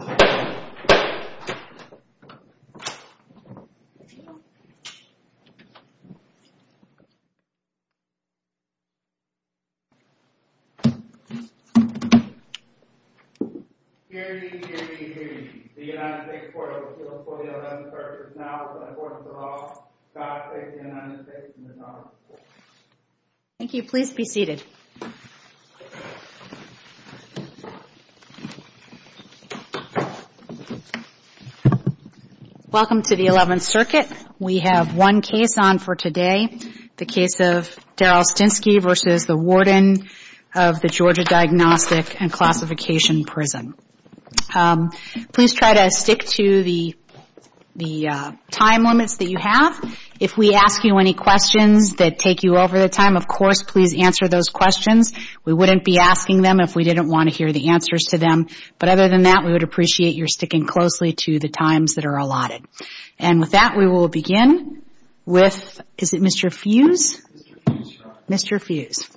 Security, security, security. The United States Court of Appeals for the Eleventh Circuit is now in the Court of the Law. God save the United States and His Honorable Court. Thank you. Please be seated. Welcome to the Eleventh Circuit. We have one case on for today. The case of Darryl Stinski v. the Warden of the Georgia Diagnostic and Classification Prison. Please try to stick to the time limits that you have. If we ask you any questions that take you over the time, of course, please answer those questions. We wouldn't be asking them if we didn't want to hear the answers to them. But other than that, we would appreciate your sticking closely to the times that are allotted. And with that, we will begin with, is it Mr. Fuse? Mr. Fuse.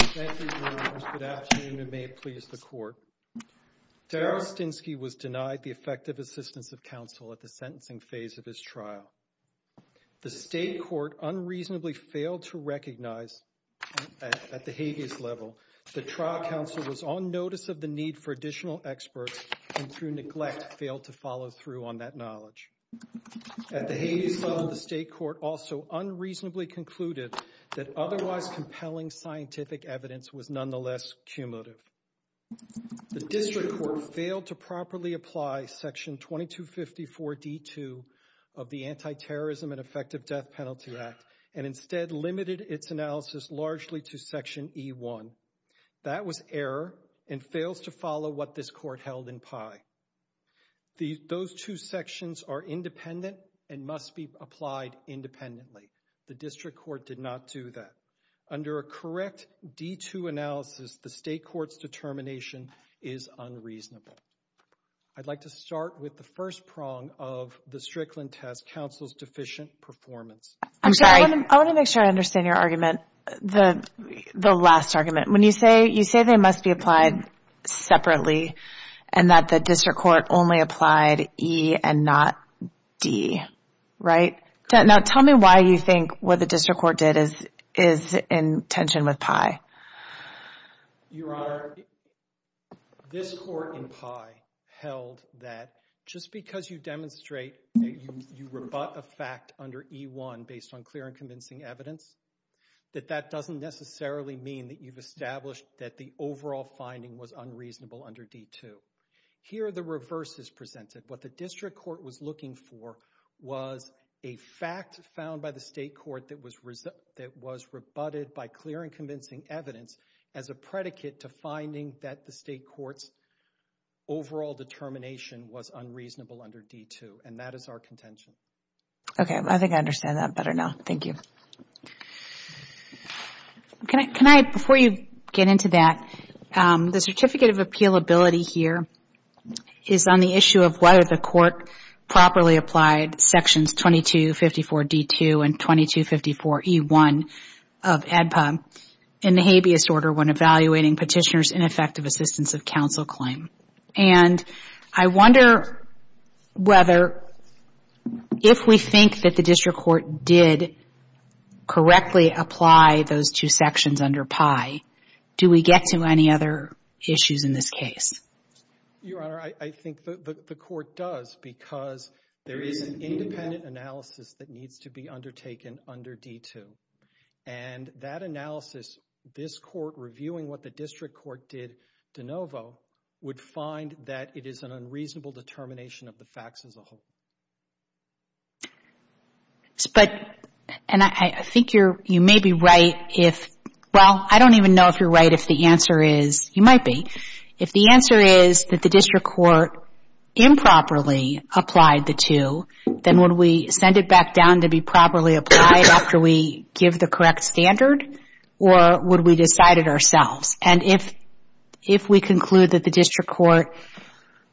Thank you very much. Good afternoon and may it please the Court. Darryl Stinski was denied the effective assistance of counsel at the sentencing phase of his trial. The state court unreasonably failed to recognize at the habeas level that trial counsel was on notice of the need for additional experts and through neglect failed to follow through on that knowledge. At the habeas level, the state court also unreasonably concluded that otherwise compelling scientific evidence was nonetheless cumulative. The district court failed to properly apply section 2254 D2 of the Anti-Terrorism and Effective Death Penalty Act and instead limited its analysis largely to section E1. That was error and fails to follow what this court held in pie. Those two sections are independent and must be applied independently. The district court did not do that. Under a correct D2 analysis, the state court's determination is unreasonable. I'd like to start with the first prong of the Strickland test, counsel's deficient performance. I want to make sure I understand your argument, the last argument. When you say they must be applied separately and that the district court only applied E and not D, right? Now tell me why you think what the district court did is in tension with pie. Your Honor, this court in pie held that just because you demonstrate that you rebut a fact under E1 based on clear and convincing evidence, that that doesn't necessarily mean that you've established that the overall finding was unreasonable under D2. Here the reverse is presented. What the district court was looking for was a fact found by the state court that was rebutted by clear and convincing evidence as a predicate to finding that the state court's overall determination was unreasonable under D2, and that is our contention. Okay, I think I understand that better now. Thank you. Can I, before you get into that, the certificate of appealability here is on the issue of whether the court properly applied sections 2254-D2 and 2254-E1 of ADPA in the habeas order when evaluating petitioner's ineffective assistance of counsel claim. And I wonder whether if we think that the district court did correctly apply those two sections under pie, do we get to any other issues in this case? Your Honor, I think the court does because there is an independent analysis that needs to be undertaken under D2. And that analysis, this court reviewing what the district court did de novo, would find that it is an unreasonable determination of the facts as a whole. But, and I think you're, you may be right if, well, I don't even know if you're right if the answer is, you might be, if the answer is that the district court improperly applied the two, then would we send it back down to be properly applied after we give the correct standard? Or would we decide it ourselves? And if we conclude that the district court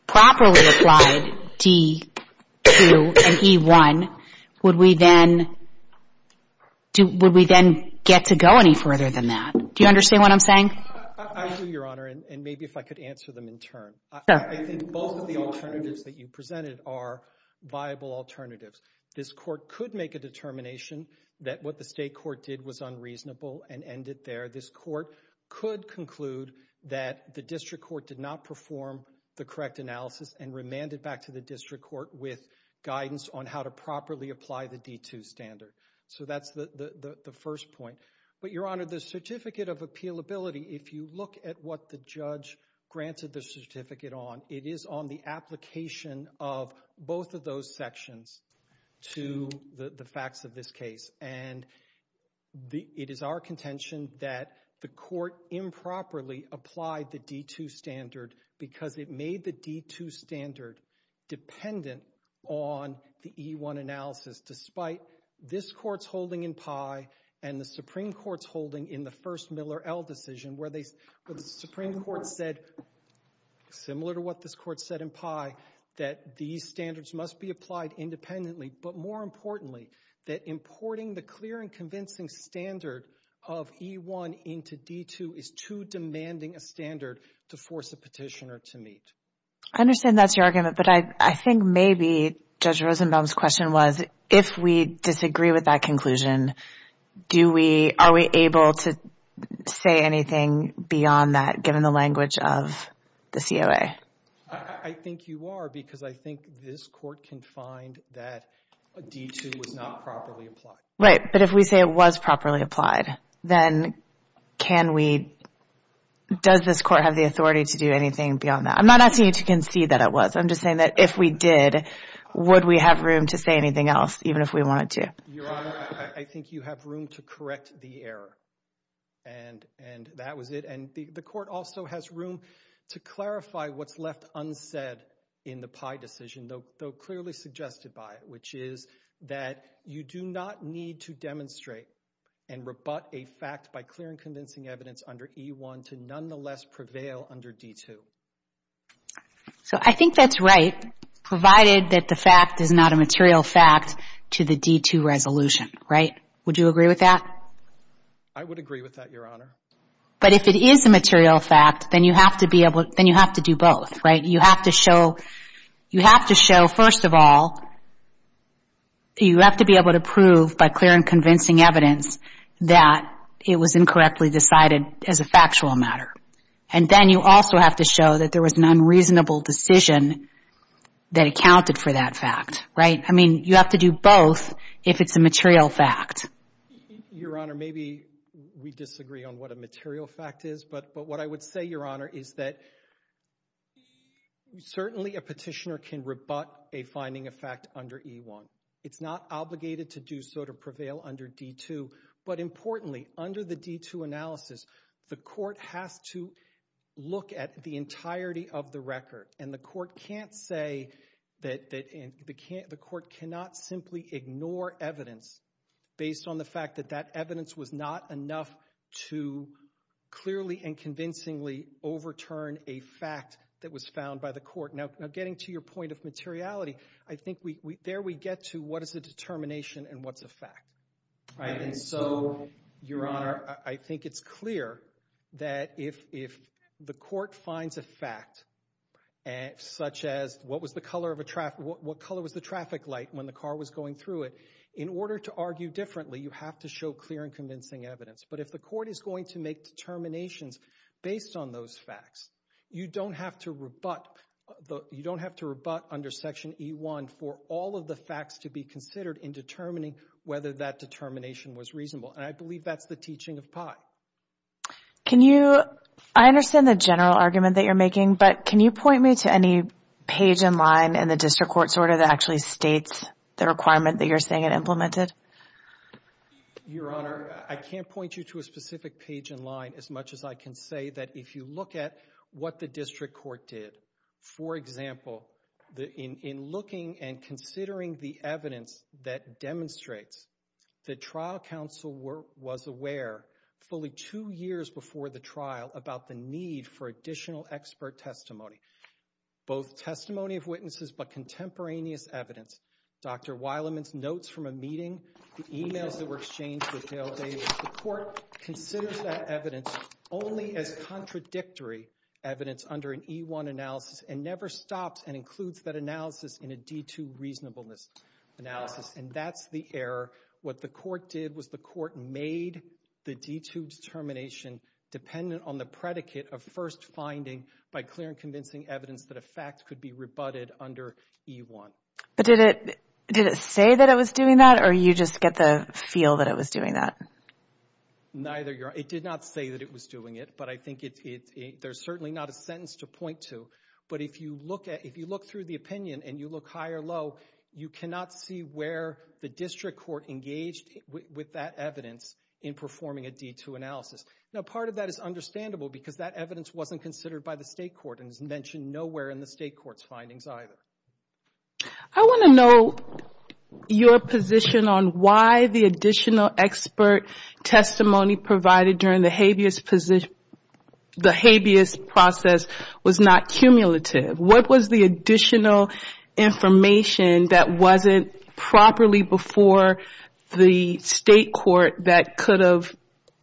properly applied D2 and E1, would we then get to go any further than that? Do you understand what I'm saying? I do, Your Honor, and maybe if I could answer them in turn. I think both of the alternatives that you presented are viable alternatives. This court could make a determination that what the state court did was unreasonable and end it there. This court could conclude that the district court did not perform the correct analysis and remand it back to the district court with guidance on how to properly apply the D2 standard. So that's the first point. But, Your Honor, the certificate of appealability, if you look at what the judge granted the certificate on, it is on the application of both of those sections to the facts of this case. And it is our contention that the court improperly applied the D2 standard because it made the D2 standard dependent on the E1 analysis, despite this court's holding in Pye and the Supreme Court's holding in the first Miller L decision where the Supreme Court said, similar to what this court said in Pye, that these standards must be applied independently, but more importantly that importing the clear and convincing standard of E1 into D2 is too demanding a standard to force a petitioner to meet. I understand that's your argument, but I think maybe Judge Rosenbaum's question was, if we disagree with that conclusion, are we able to say anything beyond that, given the language of the COA? I think you are, because I think this court can find that D2 was not properly applied. Right, but if we say it was properly applied, then can we, does this court have the authority to do anything beyond that? I'm not asking you to concede that it was. I'm just saying that if we did, would we have room to say anything else, even if we wanted to? Your Honor, I think you have room to correct the error, and that was it. And the court also has room to clarify what's left unsaid in the Pye decision, though clearly suggested by it, which is that you do not need to demonstrate and rebut a fact by clear and convincing evidence under E1 to nonetheless prevail under D2. So I think that's right, provided that the fact is not a material fact to the D2 resolution, right? Would you agree with that? I would agree with that, Your Honor. But if it is a material fact, then you have to do both, right? You have to show, first of all, that you have to be able to prove by clear and convincing evidence that it was incorrectly decided as a factual matter. And then you also have to show that there was an unreasonable decision that accounted for that fact, right? I mean, you have to do both if it's a material fact. Your Honor, maybe we disagree on what a material fact is, but what I would say, Your Honor, is that certainly a petitioner can rebut a finding of fact under E1. It's not obligated to do so to prevail under D2. But importantly, under the D2 analysis, the court has to look at the entirety of the record. And the court cannot simply ignore evidence based on the fact that that evidence was not enough to clearly and convincingly overturn a fact that was found by the court. Now, getting to your point of materiality, I think there we get to what is a determination and what's a fact, right? And so, Your Honor, I think it's clear that if the court finds a fact, such as what color was the traffic light when the car was going through it, in order to argue differently, you have to show clear and convincing evidence. But if the court is going to make determinations based on those facts, you don't have to rebut under Section E1 for all of the facts to be considered in determining whether that determination was reasonable. And I believe that's the teaching of Pye. I understand the general argument that you're making, but can you point me to any page in line in the district court's order that actually states the requirement that you're saying it implemented? Your Honor, I can't point you to a specific page in line as much as I can say that if you look at what the district court did, for example, in looking and considering the evidence that demonstrates that trial counsel was aware fully two years before the trial about the need for additional expert testimony, both testimony of witnesses but contemporaneous evidence. Dr. Wileman's notes from a meeting, the emails that were exchanged with Dale Davis, the court considers that evidence only as contradictory evidence under an E1 analysis and never stops and includes that analysis in a D2 reasonableness analysis. And that's the error. What the court did was the court made the D2 determination dependent on the predicate of first finding by clear and convincing evidence that a fact could be rebutted under E1. But did it say that it was doing that or you just get the feel that it was doing that? Neither, Your Honor. It did not say that it was doing it, but I think there's certainly not a sentence to point to. But if you look through the opinion and you look high or low, you cannot see where the district court engaged with that evidence in performing a D2 analysis. Now, part of that is understandable because that evidence wasn't considered by the state court and is mentioned nowhere in the state court's findings either. I want to know your position on why the additional expert testimony provided during the habeas process was not cumulative. What was the additional information that wasn't properly before the state court that could have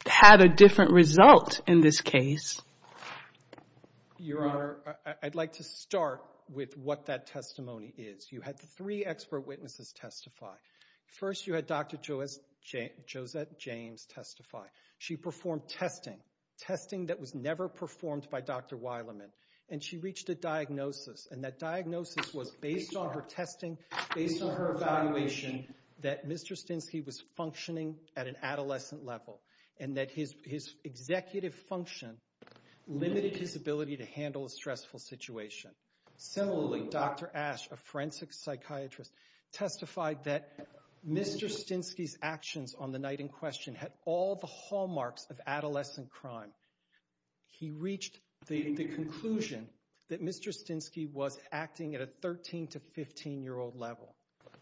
had a different result in this case? Your Honor, I'd like to start with what that testimony is. You had three expert witnesses testify. First, you had Dr. Josette James testify. She performed testing, testing that was never performed by Dr. Wileman, and she reached a diagnosis, and that diagnosis was based on her testing, based on her evaluation that Mr. Stensky was functioning at an adolescent level and that his executive function limited his ability to handle a stressful situation. Similarly, Dr. Ash, a forensic psychiatrist, testified that Mr. Stensky's actions on the night in question had all the hallmarks of adolescent crime. He reached the conclusion that Mr. Stensky was acting at a 13- to 15-year-old level.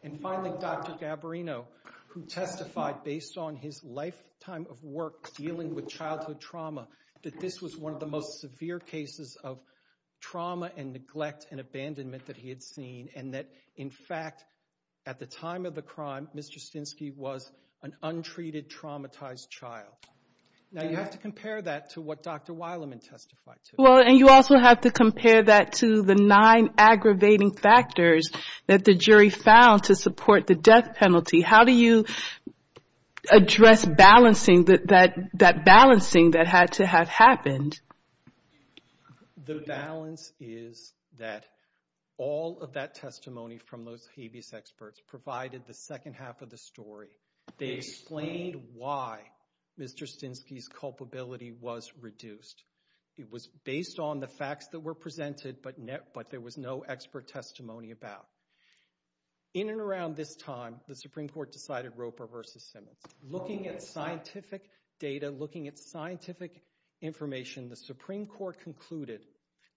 And finally, Dr. Gabarino, who testified based on his lifetime of work dealing with childhood trauma, that this was one of the most severe cases of trauma and neglect and abandonment that he had seen and that, in fact, at the time of the crime, Mr. Stensky was an untreated, traumatized child. Now, you have to compare that to what Dr. Wileman testified to. Well, and you also have to compare that to the nine aggravating factors that the jury found to support the death penalty. How do you address balancing that balancing that had to have happened? The balance is that all of that testimony from those habeas experts provided the second half of the story. They explained why Mr. Stensky's culpability was reduced. It was based on the facts that were presented, but there was no expert testimony about. In and around this time, the Supreme Court decided Roper v. Simmons. Looking at scientific data, looking at scientific information, the Supreme Court concluded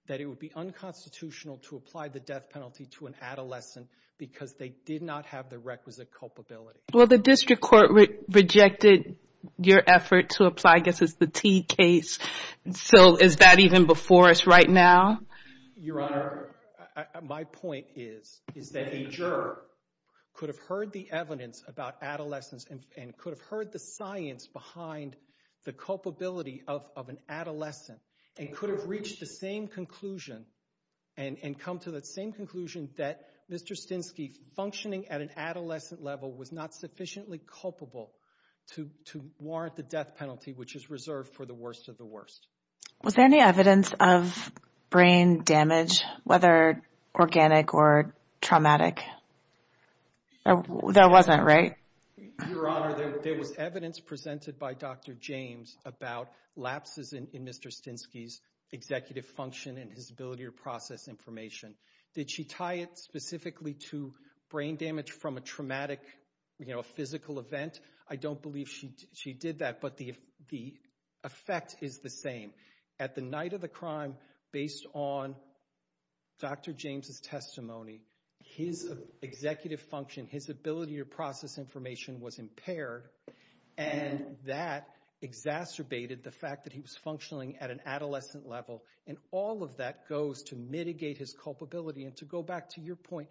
that it would be unconstitutional to apply the death penalty to an adolescent because they did not have the requisite culpability. Well, the district court rejected your effort to apply, I guess, the T case. So, is that even before us right now? Your Honor, my point is that a juror could have heard the evidence about adolescence and could have heard the science behind the culpability of an adolescent and could have reached the same conclusion and come to the same conclusion that Mr. Stensky functioning at an adolescent level was not sufficiently culpable to warrant the death penalty, which is reserved for the worst of the worst. Was there any evidence of brain damage, whether organic or traumatic? There wasn't, right? Your Honor, there was evidence presented by Dr. James about lapses in Mr. Stensky's executive function and his ability to process information. Did she tie it specifically to brain damage from a traumatic physical event? I don't believe she did that, but the effect is the same. At the night of the crime, based on Dr. James' testimony, his executive function, his ability to process information was impaired, and that exacerbated the fact that he was functioning at an adolescent level, and all of that goes to mitigate his culpability. And to go back to your point,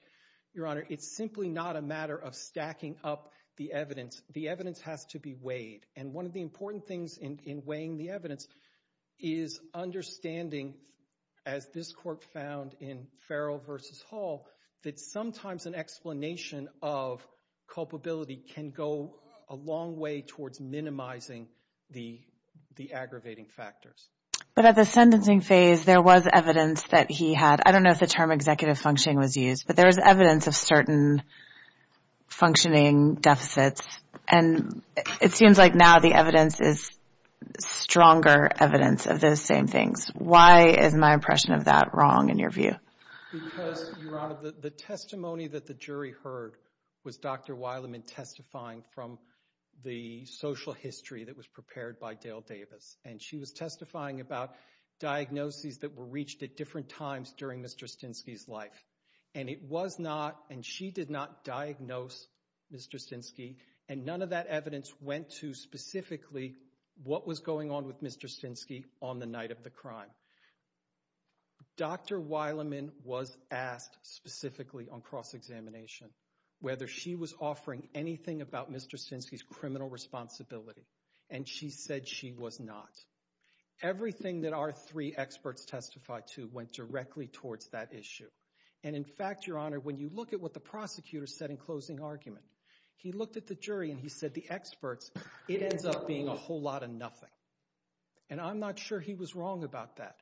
Your Honor, it's simply not a matter of stacking up the evidence. The evidence has to be weighed, and one of the important things in weighing the evidence is understanding, as this Court found in Farrell v. Hall, that sometimes an explanation of culpability can go a long way towards minimizing the aggravating factors. But at the sentencing phase, there was evidence that he had. I don't know if the term executive functioning was used, but there was evidence of certain functioning deficits, and it seems like now the evidence is stronger evidence of those same things. Why is my impression of that wrong in your view? Because, Your Honor, the testimony that the jury heard was Dr. Wileman testifying from the social history that was prepared by Dale Davis, and she was testifying about diagnoses that were reached at different times during Mr. Stinsky's life. And it was not, and she did not diagnose Mr. Stinsky, and none of that evidence went to specifically what was going on with Mr. Stinsky on the night of the crime. Dr. Wileman was asked specifically on cross-examination whether she was offering anything about Mr. Stinsky's criminal responsibility, and she said she was not. Everything that our three experts testified to went directly towards that issue. And, in fact, Your Honor, when you look at what the prosecutor said in closing argument, he looked at the jury and he said the experts, it ends up being a whole lot of nothing. And I'm not sure he was wrong about that.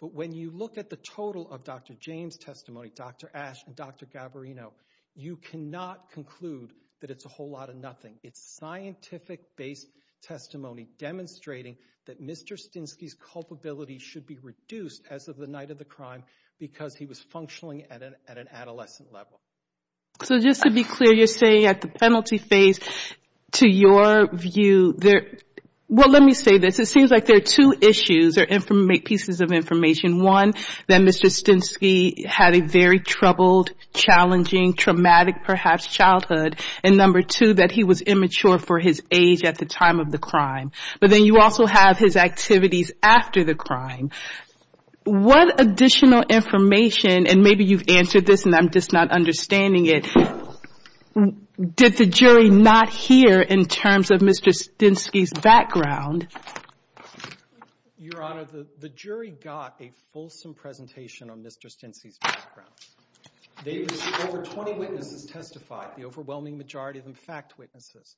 But when you look at the total of Dr. James' testimony, Dr. Ash and Dr. Gabarino, you cannot conclude that it's a whole lot of nothing. It's scientific-based testimony demonstrating that Mr. Stinsky's culpability should be reduced as of the night of the crime because he was functioning at an adolescent level. So just to be clear, you're saying at the penalty phase, to your view, there, well, let me say this. It seems like there are two issues or pieces of information. One, that Mr. Stinsky had a very troubled, challenging, traumatic perhaps childhood. And number two, that he was immature for his age at the time of the crime. But then you also have his activities after the crime. What additional information, and maybe you've answered this and I'm just not understanding it, did the jury not hear in terms of Mr. Stinsky's background? Your Honor, the jury got a fulsome presentation on Mr. Stinsky's background. Over 20 witnesses testified, the overwhelming majority of them fact witnesses.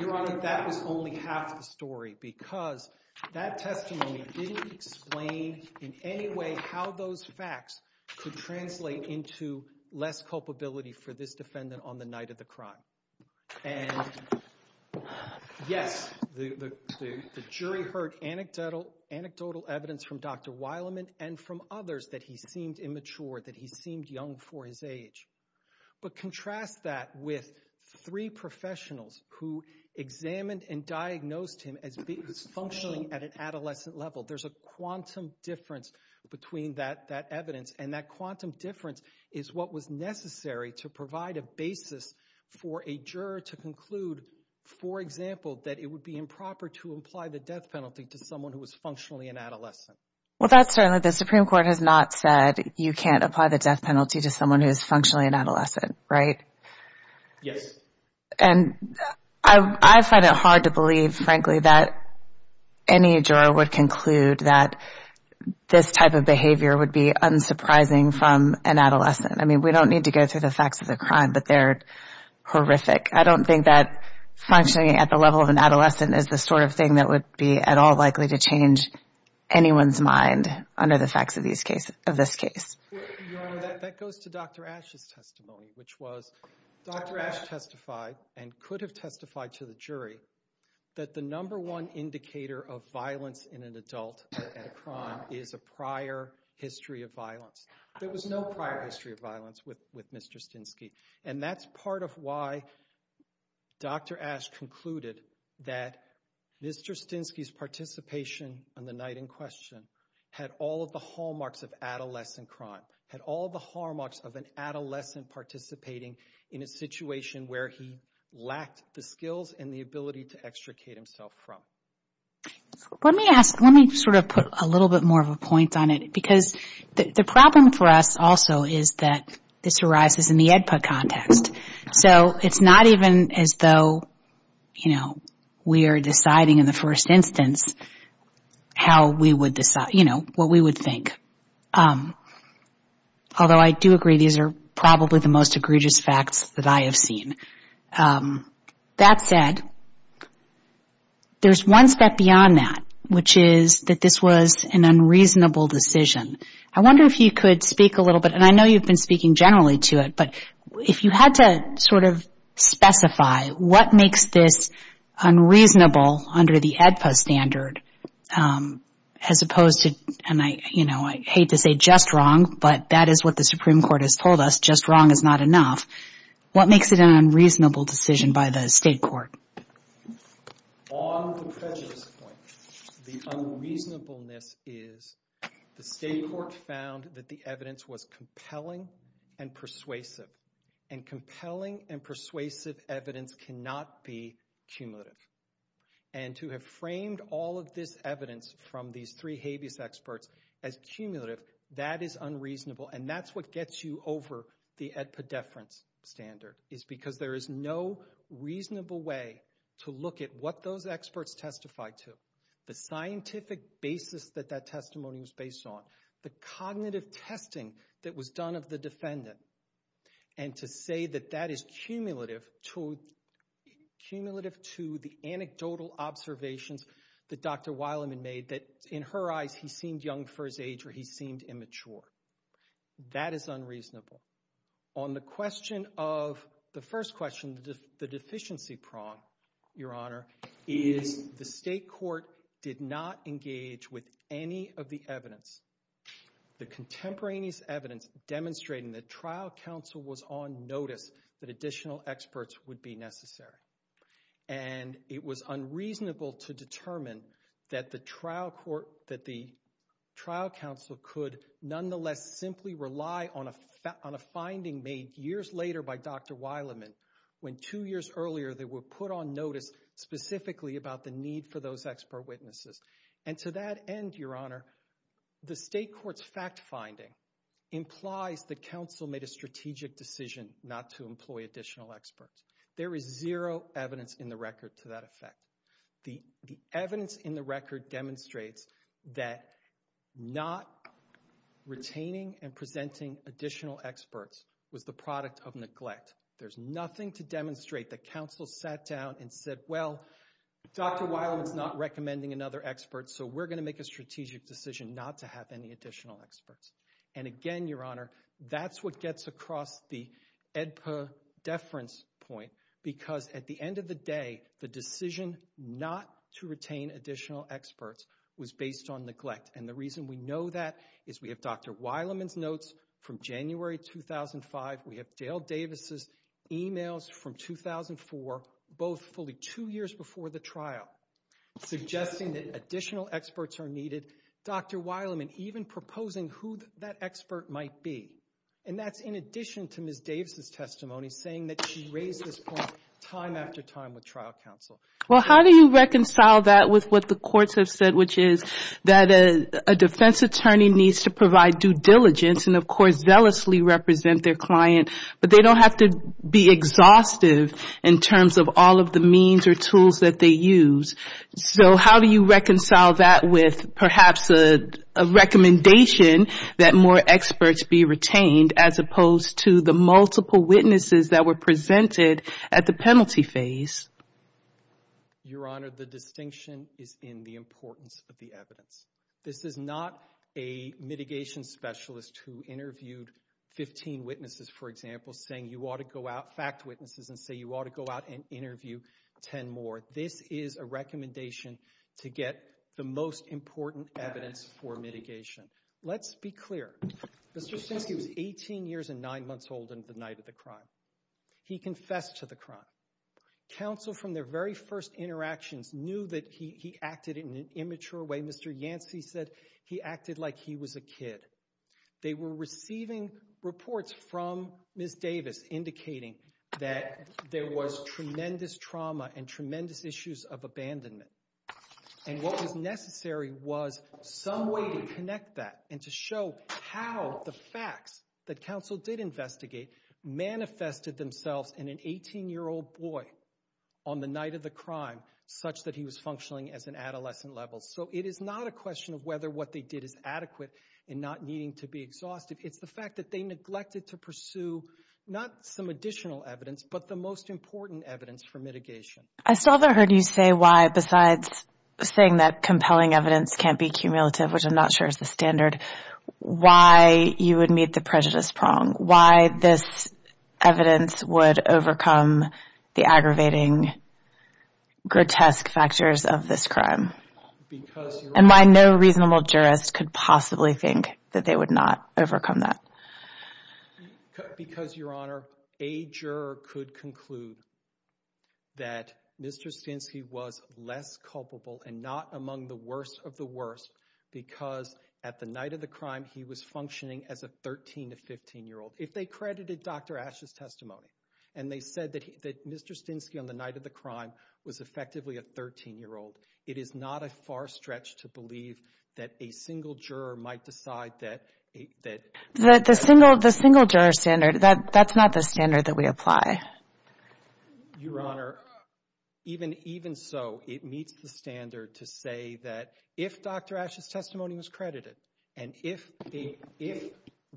Your Honor, that was only half the story because that testimony didn't explain in any way how those facts could translate into less culpability for this defendant on the night of the crime. And yes, the jury heard anecdotal evidence from Dr. Wileman and from others that he seemed immature, that he seemed young for his age. But contrast that with three professionals who examined and diagnosed him as functioning at an adolescent level. There's a quantum difference between that evidence, and that quantum difference is what was necessary to provide a basis for a juror to conclude, for example, that it would be improper to apply the death penalty to someone who was functionally an adolescent. Well, that's certainly, the Supreme Court has not said you can't apply the death penalty to someone who is functionally an adolescent, right? Yes. And I find it hard to believe, frankly, that any juror would conclude that this type of behavior would be unsurprising from an adolescent. I mean, we don't need to go through the facts of the crime, but they're horrific. I don't think that functioning at the level of an adolescent is the sort of thing that would be at all likely to change anyone's mind under the facts of these cases, of this case. Your Honor, that goes to Dr. Ashe's testimony, which was Dr. Ashe testified and could have testified to the jury that the number one indicator of violence in an adult at a crime is a prior history of violence. There was no prior history of violence with Mr. Stinsky. And that's part of why Dr. Ashe concluded that Mr. Stinsky's participation on the night in question had all of the hallmarks of adolescent crime, had all of the hallmarks of an adolescent participating in a situation where he lacked the skills and the ability to extricate himself from. Let me ask, let me sort of put a little bit more of a point on it, because the problem for us also is that this arises in the EDPA context. So it's not even as though, you know, we are deciding in the first instance how we would decide, you know, what we would think. Although I do agree these are probably the most egregious facts that I have seen. That said, there's one step beyond that, which is that this was an unreasonable decision. I wonder if you could speak a little bit, and I know you've been speaking generally to it, but if you had to sort of specify what makes this unreasonable under the EDPA standard as opposed to, and I, you know, I hate to say just wrong, but that is what the Supreme Court has told us, that just wrong is not enough, what makes it an unreasonable decision by the state court? On the prejudice point, the unreasonableness is the state court found that the evidence was compelling and persuasive, and compelling and persuasive evidence cannot be cumulative. And to have framed all of this evidence from these three habeas experts as cumulative, that is unreasonable, and that's what gets you over the EDPA deference standard, is because there is no reasonable way to look at what those experts testified to, the scientific basis that that testimony was based on, the cognitive testing that was done of the defendant, and to say that that is cumulative to the anecdotal observations that Dr. Weilman made, that in her eyes he seemed young for his age or he seemed immature, that is unreasonable. On the question of the first question, the deficiency prong, Your Honor, is the state court did not engage with any of the evidence, the contemporaneous evidence demonstrating that trial counsel was on notice that additional experts would be necessary. And it was unreasonable to determine that the trial counsel could nonetheless simply rely on a finding made years later by Dr. Weilman, when two years earlier they were put on notice specifically about the need for those expert witnesses. And to that end, Your Honor, the state court's fact finding implies the counsel made a strategic decision not to employ additional experts. There is zero evidence in the record to that effect. The evidence in the record demonstrates that not retaining and presenting additional experts was the product of neglect. There's nothing to demonstrate that counsel sat down and said, well, Dr. Weilman's not recommending another expert, so we're going to make a strategic decision not to have any additional experts. And again, Your Honor, that's what gets across the AEDPA deference point, because at the end of the day, the decision not to retain additional experts was based on neglect. And the reason we know that is we have Dr. Weilman's notes from January 2005. We have Dale Davis's emails from 2004, both fully two years before the trial, suggesting that additional experts are needed. Dr. Weilman even proposing who that expert might be, and that's in addition to Ms. Davis's testimony saying that she raised this point time after time with trial counsel. Well, how do you reconcile that with what the courts have said, which is that a defense attorney needs to provide due diligence and, of course, zealously represent their client, but they don't have to be exhaustive in terms of all of the means or tools that they use. So how do you reconcile that with perhaps a recommendation that more experts be retained, as opposed to the multiple witnesses that were presented at the penalty phase? Your Honor, the distinction is in the importance of the evidence. This is not a mitigation specialist who interviewed 15 witnesses, for example, saying you ought to go out, fact witnesses, and say you ought to go out and interview 10 more. This is a recommendation to get the most important evidence for mitigation. Let's be clear. Mr. Stensky was 18 years and 9 months old the night of the crime. He confessed to the crime. Counsel, from their very first interactions, knew that he acted in an immature way. Mr. Yancey said he acted like he was a kid. They were receiving reports from Ms. Davis indicating that there was tremendous trauma and tremendous issues of abandonment, and what was necessary was some way to connect that and to show how the facts that counsel did investigate manifested themselves in an 18-year-old boy on the night of the crime such that he was functioning as an adolescent level. So it is not a question of whether what they did is adequate in not needing to be exhaustive. It's the fact that they neglected to pursue not some additional evidence but the most important evidence for mitigation. I still haven't heard you say why, besides saying that compelling evidence can't be cumulative, which I'm not sure is the standard, why you would meet the prejudice prong, why this evidence would overcome the aggravating, grotesque factors of this crime. And why no reasonable jurist could possibly think that they would not overcome that. Because, Your Honor, a juror could conclude that Mr. Stinsky was less culpable and not among the worst of the worst because at the night of the crime he was functioning as a 13- to 15-year-old. If they credited Dr. Asch's testimony and they said that Mr. Stinsky on the night of the crime was effectively a 13-year-old, it is not a far stretch to believe that a single juror might decide that— The single juror standard, that's not the standard that we apply. Your Honor, even so, it meets the standard to say that if Dr. Asch's testimony was credited and if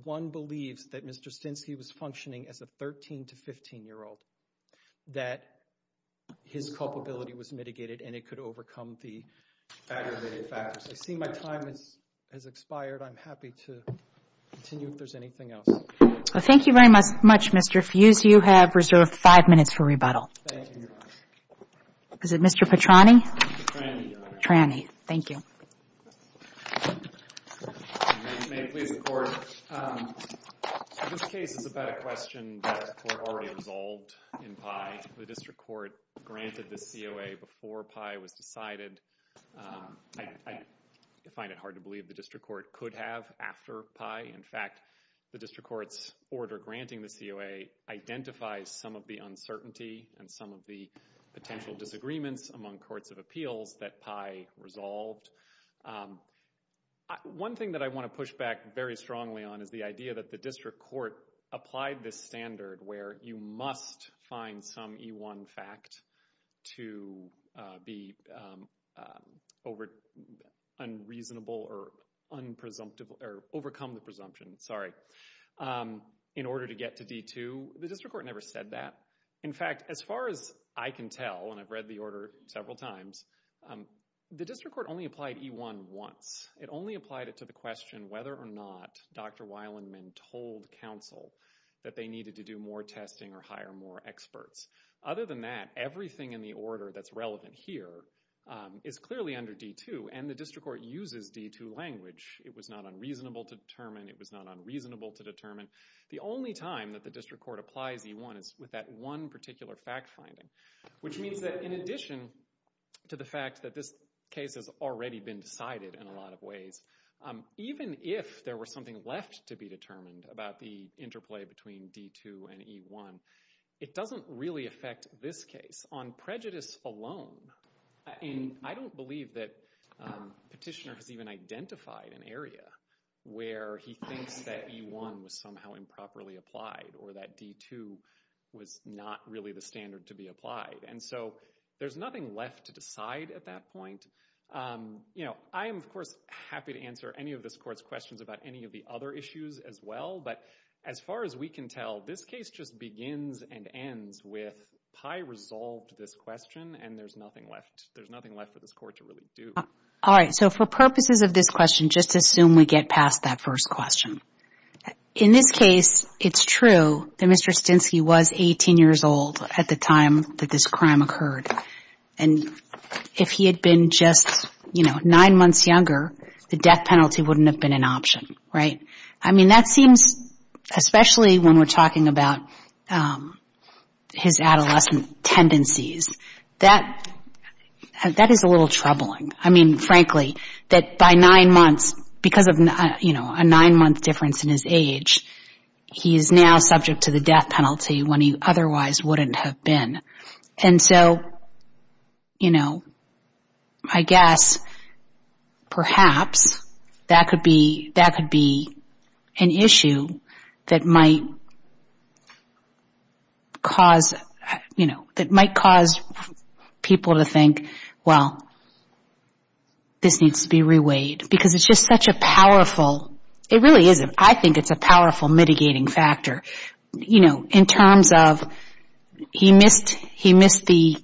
one believes that Mr. Stinsky was functioning as a 13- to 15-year-old, that his culpability was mitigated and it could overcome the aggravating factors. I see my time has expired. I'm happy to continue if there's anything else. Well, thank you very much, Mr. Fuse. You have reserved five minutes for rebuttal. Thank you, Your Honor. Is it Mr. Petrani? Petrani, Your Honor. Petrani. Thank you. May it please the Court. This case is about a question that the Court already resolved in PI. The District Court granted the COA before PI was decided. I find it hard to believe the District Court could have after PI. In fact, the District Court's order granting the COA identifies some of the uncertainty and some of the potential disagreements among courts of appeals that PI resolved. One thing that I want to push back very strongly on is the idea that the District Court applied this standard where you must find some E-1 fact to be unreasonable or overcome the presumption in order to get to D-2. The District Court never said that. In fact, as far as I can tell, and I've read the order several times, the District Court only applied E-1 once. It only applied it to the question whether or not Dr. Weilandman told counsel that they needed to do more testing or hire more experts. Other than that, everything in the order that's relevant here is clearly under D-2, and the District Court uses D-2 language. It was not unreasonable to determine. It was not unreasonable to determine. The only time that the District Court applies E-1 is with that one particular fact finding, which means that in addition to the fact that this case has already been decided in a lot of ways, even if there was something left to be determined about the interplay between D-2 and E-1, it doesn't really affect this case. On prejudice alone, I don't believe that Petitioner has even identified an area where he thinks that E-1 was somehow improperly applied or that D-2 was not really the standard to be applied. And so there's nothing left to decide at that point. You know, I am, of course, happy to answer any of this Court's questions about any of the other issues as well, but as far as we can tell, this case just begins and ends with, I resolved this question and there's nothing left for this Court to really do. All right, so for purposes of this question, just assume we get past that first question. In this case, it's true that Mr. Stinsky was 18 years old at the time that this crime occurred, and if he had been just, you know, nine months younger, the death penalty wouldn't have been an option, right? I mean, that seems, especially when we're talking about his adolescent tendencies, that is a little troubling. I mean, frankly, that by nine months, because of, you know, a nine-month difference in his age, he is now subject to the death penalty when he otherwise wouldn't have been. And so, you know, I guess perhaps that could be an issue that might cause, you know, that might cause people to think, well, this needs to be reweighed, because it's just such a powerful, it really is, I think it's a powerful mitigating factor, you know, in terms of he missed the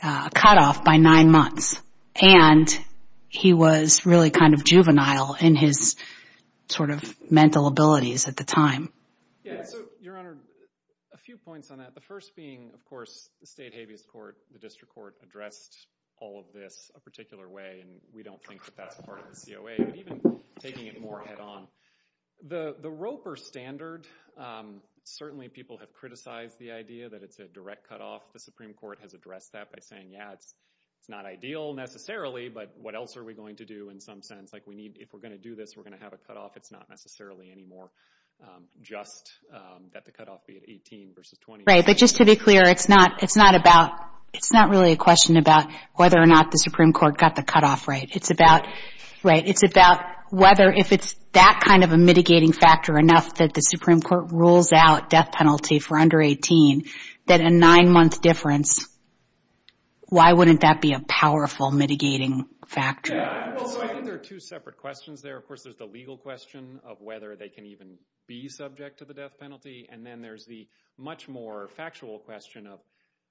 cutoff by nine months, and he was really kind of juvenile in his sort of mental abilities at the time. Yeah, so, Your Honor, a few points on that. The first being, of course, the state habeas court, the district court, addressed all of this a particular way, and we don't think that that's part of the COA, but even taking it more head-on. The Roper standard, certainly people have criticized the idea that it's a direct cutoff. The Supreme Court has addressed that by saying, yeah, it's not ideal necessarily, but what else are we going to do in some sense? Like, we need, if we're going to do this, we're going to have a cutoff. It's not necessarily anymore just that the cutoff be at 18 versus 20. Right, but just to be clear, it's not really a question about whether or not the Supreme Court got the cutoff right. It's about whether if it's that kind of a mitigating factor enough that the Supreme Court rules out death penalty for under 18, that a nine-month difference, why wouldn't that be a powerful mitigating factor? I think there are two separate questions there. Of course, there's the legal question of whether they can even be subject to the death penalty, and then there's the much more factual question of,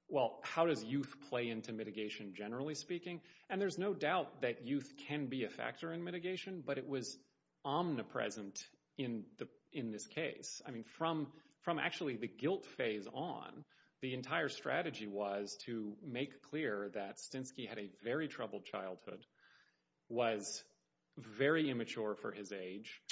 well, how does youth play into mitigation generally speaking? And there's no doubt that youth can be a factor in mitigation, but it was omnipresent in this case. I mean, from actually the guilt phase on, the entire strategy was to make clear that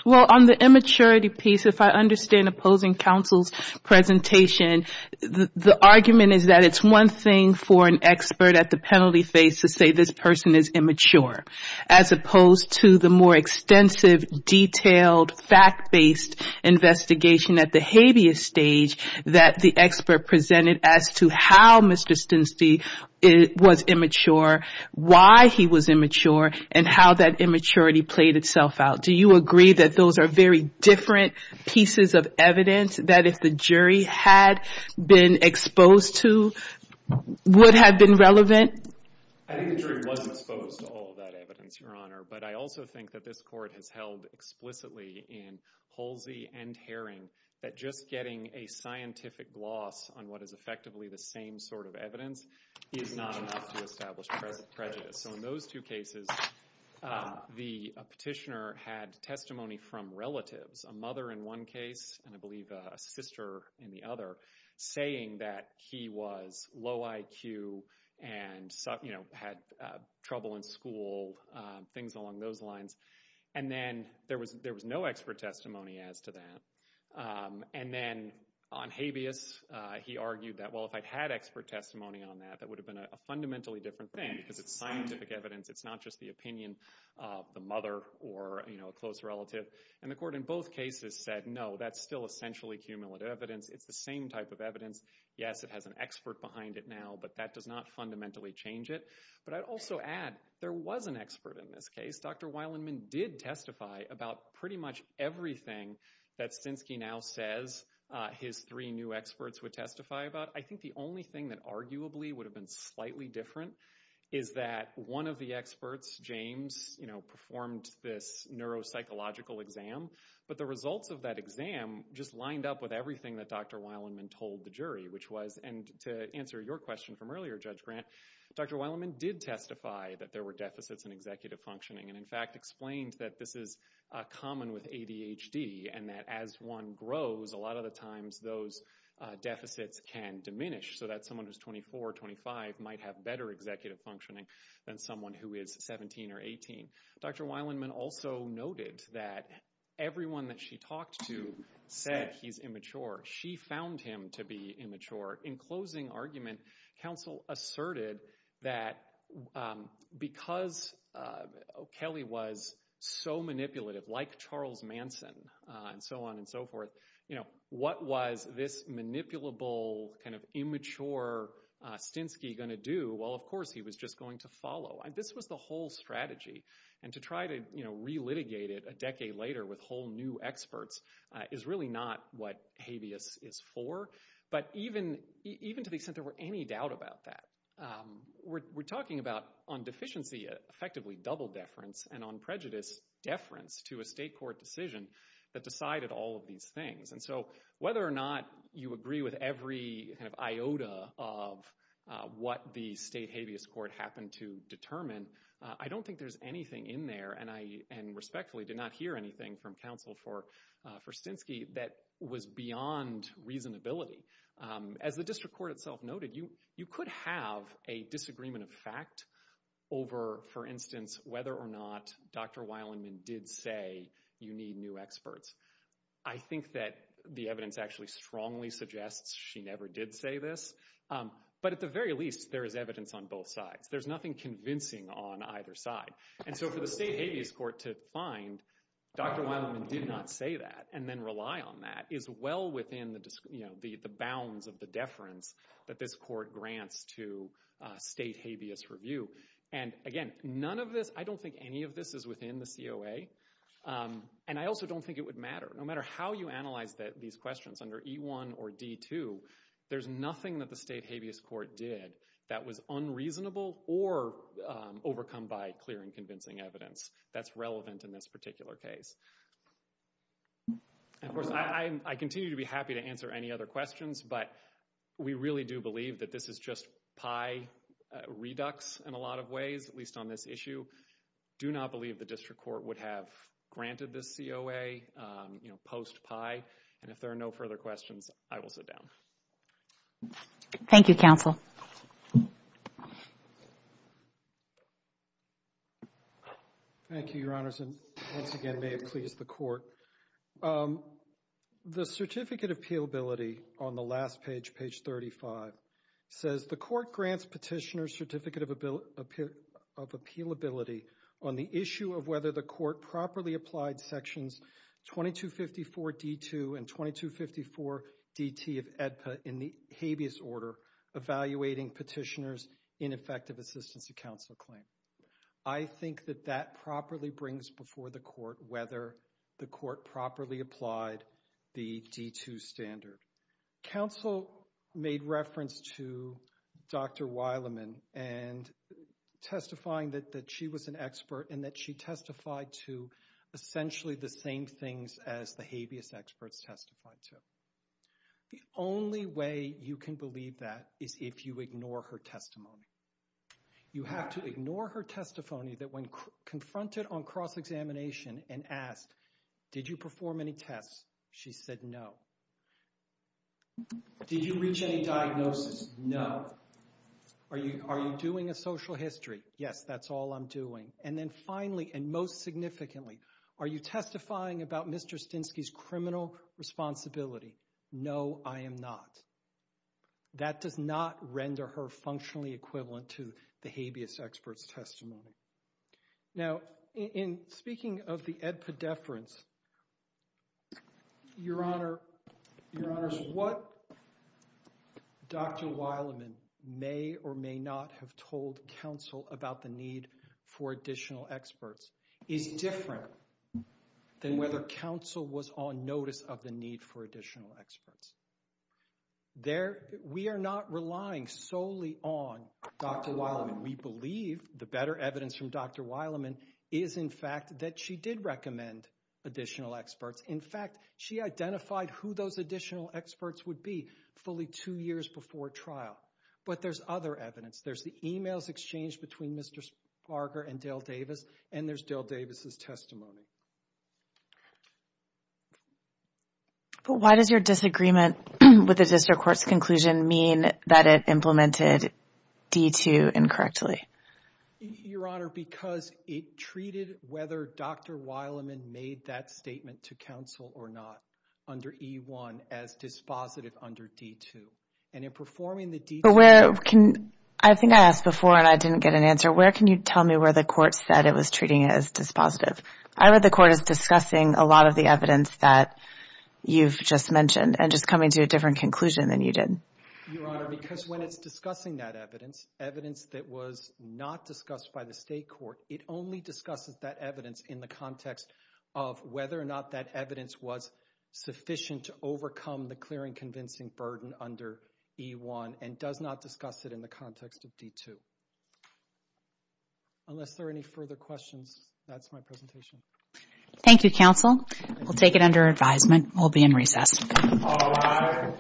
Well, on the immaturity piece, if I understand opposing counsel's presentation, the argument is that it's one thing for an expert at the penalty phase to say this person is immature, as opposed to the more extensive, detailed, fact-based investigation at the habeas stage that the expert presented as to how Mr. Stinstein was immature, why he was immature, and how that immaturity played itself out. Do you agree that those are very different pieces of evidence that, if the jury had been exposed to, would have been relevant? I think the jury was exposed to all of that evidence, Your Honor, but I also think that this Court has held explicitly in Holsey and Herring that just getting a scientific gloss on what is effectively the same sort of evidence is not enough to establish prejudice. So in those two cases, the petitioner had testimony from relatives, a mother in one case, and I believe a sister in the other, saying that he was low IQ and had trouble in school, things along those lines, and then there was no expert testimony as to that. And then on habeas, he argued that, well, if I'd had expert testimony on that, that would have been a fundamentally different thing because it's scientific evidence. It's not just the opinion of the mother or a close relative. And the Court in both cases said, no, that's still essentially cumulative evidence. It's the same type of evidence. Yes, it has an expert behind it now, but that does not fundamentally change it. But I'd also add there was an expert in this case. Dr. Wilenman did testify about pretty much everything that Stensky now says his three new experts would testify about. I think the only thing that arguably would have been slightly different is that one of the experts, James, performed this neuropsychological exam, but the results of that exam just lined up with everything that Dr. Wilenman told the jury, which was, and to answer your question from earlier, Judge Grant, Dr. Wilenman did testify that there were deficits in executive functioning and, in fact, explained that this is common with ADHD and that as one grows, a lot of the times those deficits can diminish so that someone who's 24 or 25 might have better executive functioning than someone who is 17 or 18. Dr. Wilenman also noted that everyone that she talked to said he's immature. She found him to be immature. In closing argument, counsel asserted that because Kelly was so manipulative, like Charles Manson and so on and so forth, what was this manipulable, kind of immature Stensky going to do? Well, of course, he was just going to follow. This was the whole strategy, and to try to relitigate it a decade later with whole new experts is really not what habeas is for. But even to the extent there were any doubt about that, we're talking about on deficiency effectively double deference and on prejudice deference to a state court decision that decided all of these things. And so whether or not you agree with every kind of iota of what the state habeas court happened to determine, I don't think there's anything in there, and I respectfully did not hear anything from counsel for Stensky that was beyond reasonability. As the district court itself noted, you could have a disagreement of fact over, for instance, whether or not Dr. Weiland did say you need new experts. I think that the evidence actually strongly suggests she never did say this. But at the very least, there is evidence on both sides. There's nothing convincing on either side. And so for the state habeas court to find Dr. Weiland did not say that and then rely on that is well within the bounds of the deference that this court grants to state habeas review. And again, none of this, I don't think any of this is within the COA, and I also don't think it would matter. No matter how you analyze these questions under E1 or D2, there's nothing that the state habeas court did that was unreasonable or overcome by clear and convincing evidence that's relevant in this particular case. Of course, I continue to be happy to answer any other questions, but we really do believe that this is just pie redux in a lot of ways, at least on this issue. I do not believe the district court would have granted this COA post pie. And if there are no further questions, I will sit down. Thank you, counsel. Thank you, Your Honors, and once again may it please the court. The certificate of appealability on the last page, page 35, says the court grants petitioner's certificate of appealability on the issue of whether the court properly applied sections 2254D2 and 2254DT of AEDPA in the habeas order evaluating petitioner's ineffective assistance to counsel claim. I think that that properly brings before the court whether the court properly applied the D2 standard. Counsel made reference to Dr. Wileman and testifying that she was an expert and that she testified to essentially the same things as the habeas experts testified to. The only way you can believe that is if you ignore her testimony. You have to ignore her testimony that when confronted on cross-examination and asked, did you perform any tests, she said no. Did you reach any diagnosis? No. Are you doing a social history? Yes, that's all I'm doing. And then finally, and most significantly, are you testifying about Mr. Stinsky's criminal responsibility? No, I am not. That does not render her functionally equivalent to the habeas experts' testimony. Now, in speaking of the AEDPA deference, Your Honor, what Dr. Wileman may or may not have told counsel about the need for additional experts is different than whether counsel was on notice of the need for additional experts. We are not relying solely on Dr. Wileman. We believe the better evidence from Dr. Wileman is, in fact, that she did recommend additional experts. In fact, she identified who those additional experts would be fully two years before trial, but there's other evidence. There's the e-mails exchanged between Mr. Sparger and Dale Davis, and there's Dale Davis' testimony. But why does your disagreement with the district court's conclusion mean that it implemented D-2 incorrectly? Your Honor, because it treated whether Dr. Wileman made that statement to counsel or not under E-1 as dispositive under D-2. I think I asked before and I didn't get an answer. Where can you tell me where the court said it was treating it as dispositive? I read the court as discussing a lot of the evidence that you've just mentioned and just coming to a different conclusion than you did. Your Honor, because when it's discussing that evidence, evidence that was not discussed by the state court, it only discusses that evidence in the context of whether or not that evidence was sufficient to overcome the clearing convincing burden under E-1 and does not discuss it in the context of D-2. Unless there are any further questions, that's my presentation. Thank you, counsel. We'll take it under advisement. We'll be in recess. All rise. Thank you, counsel.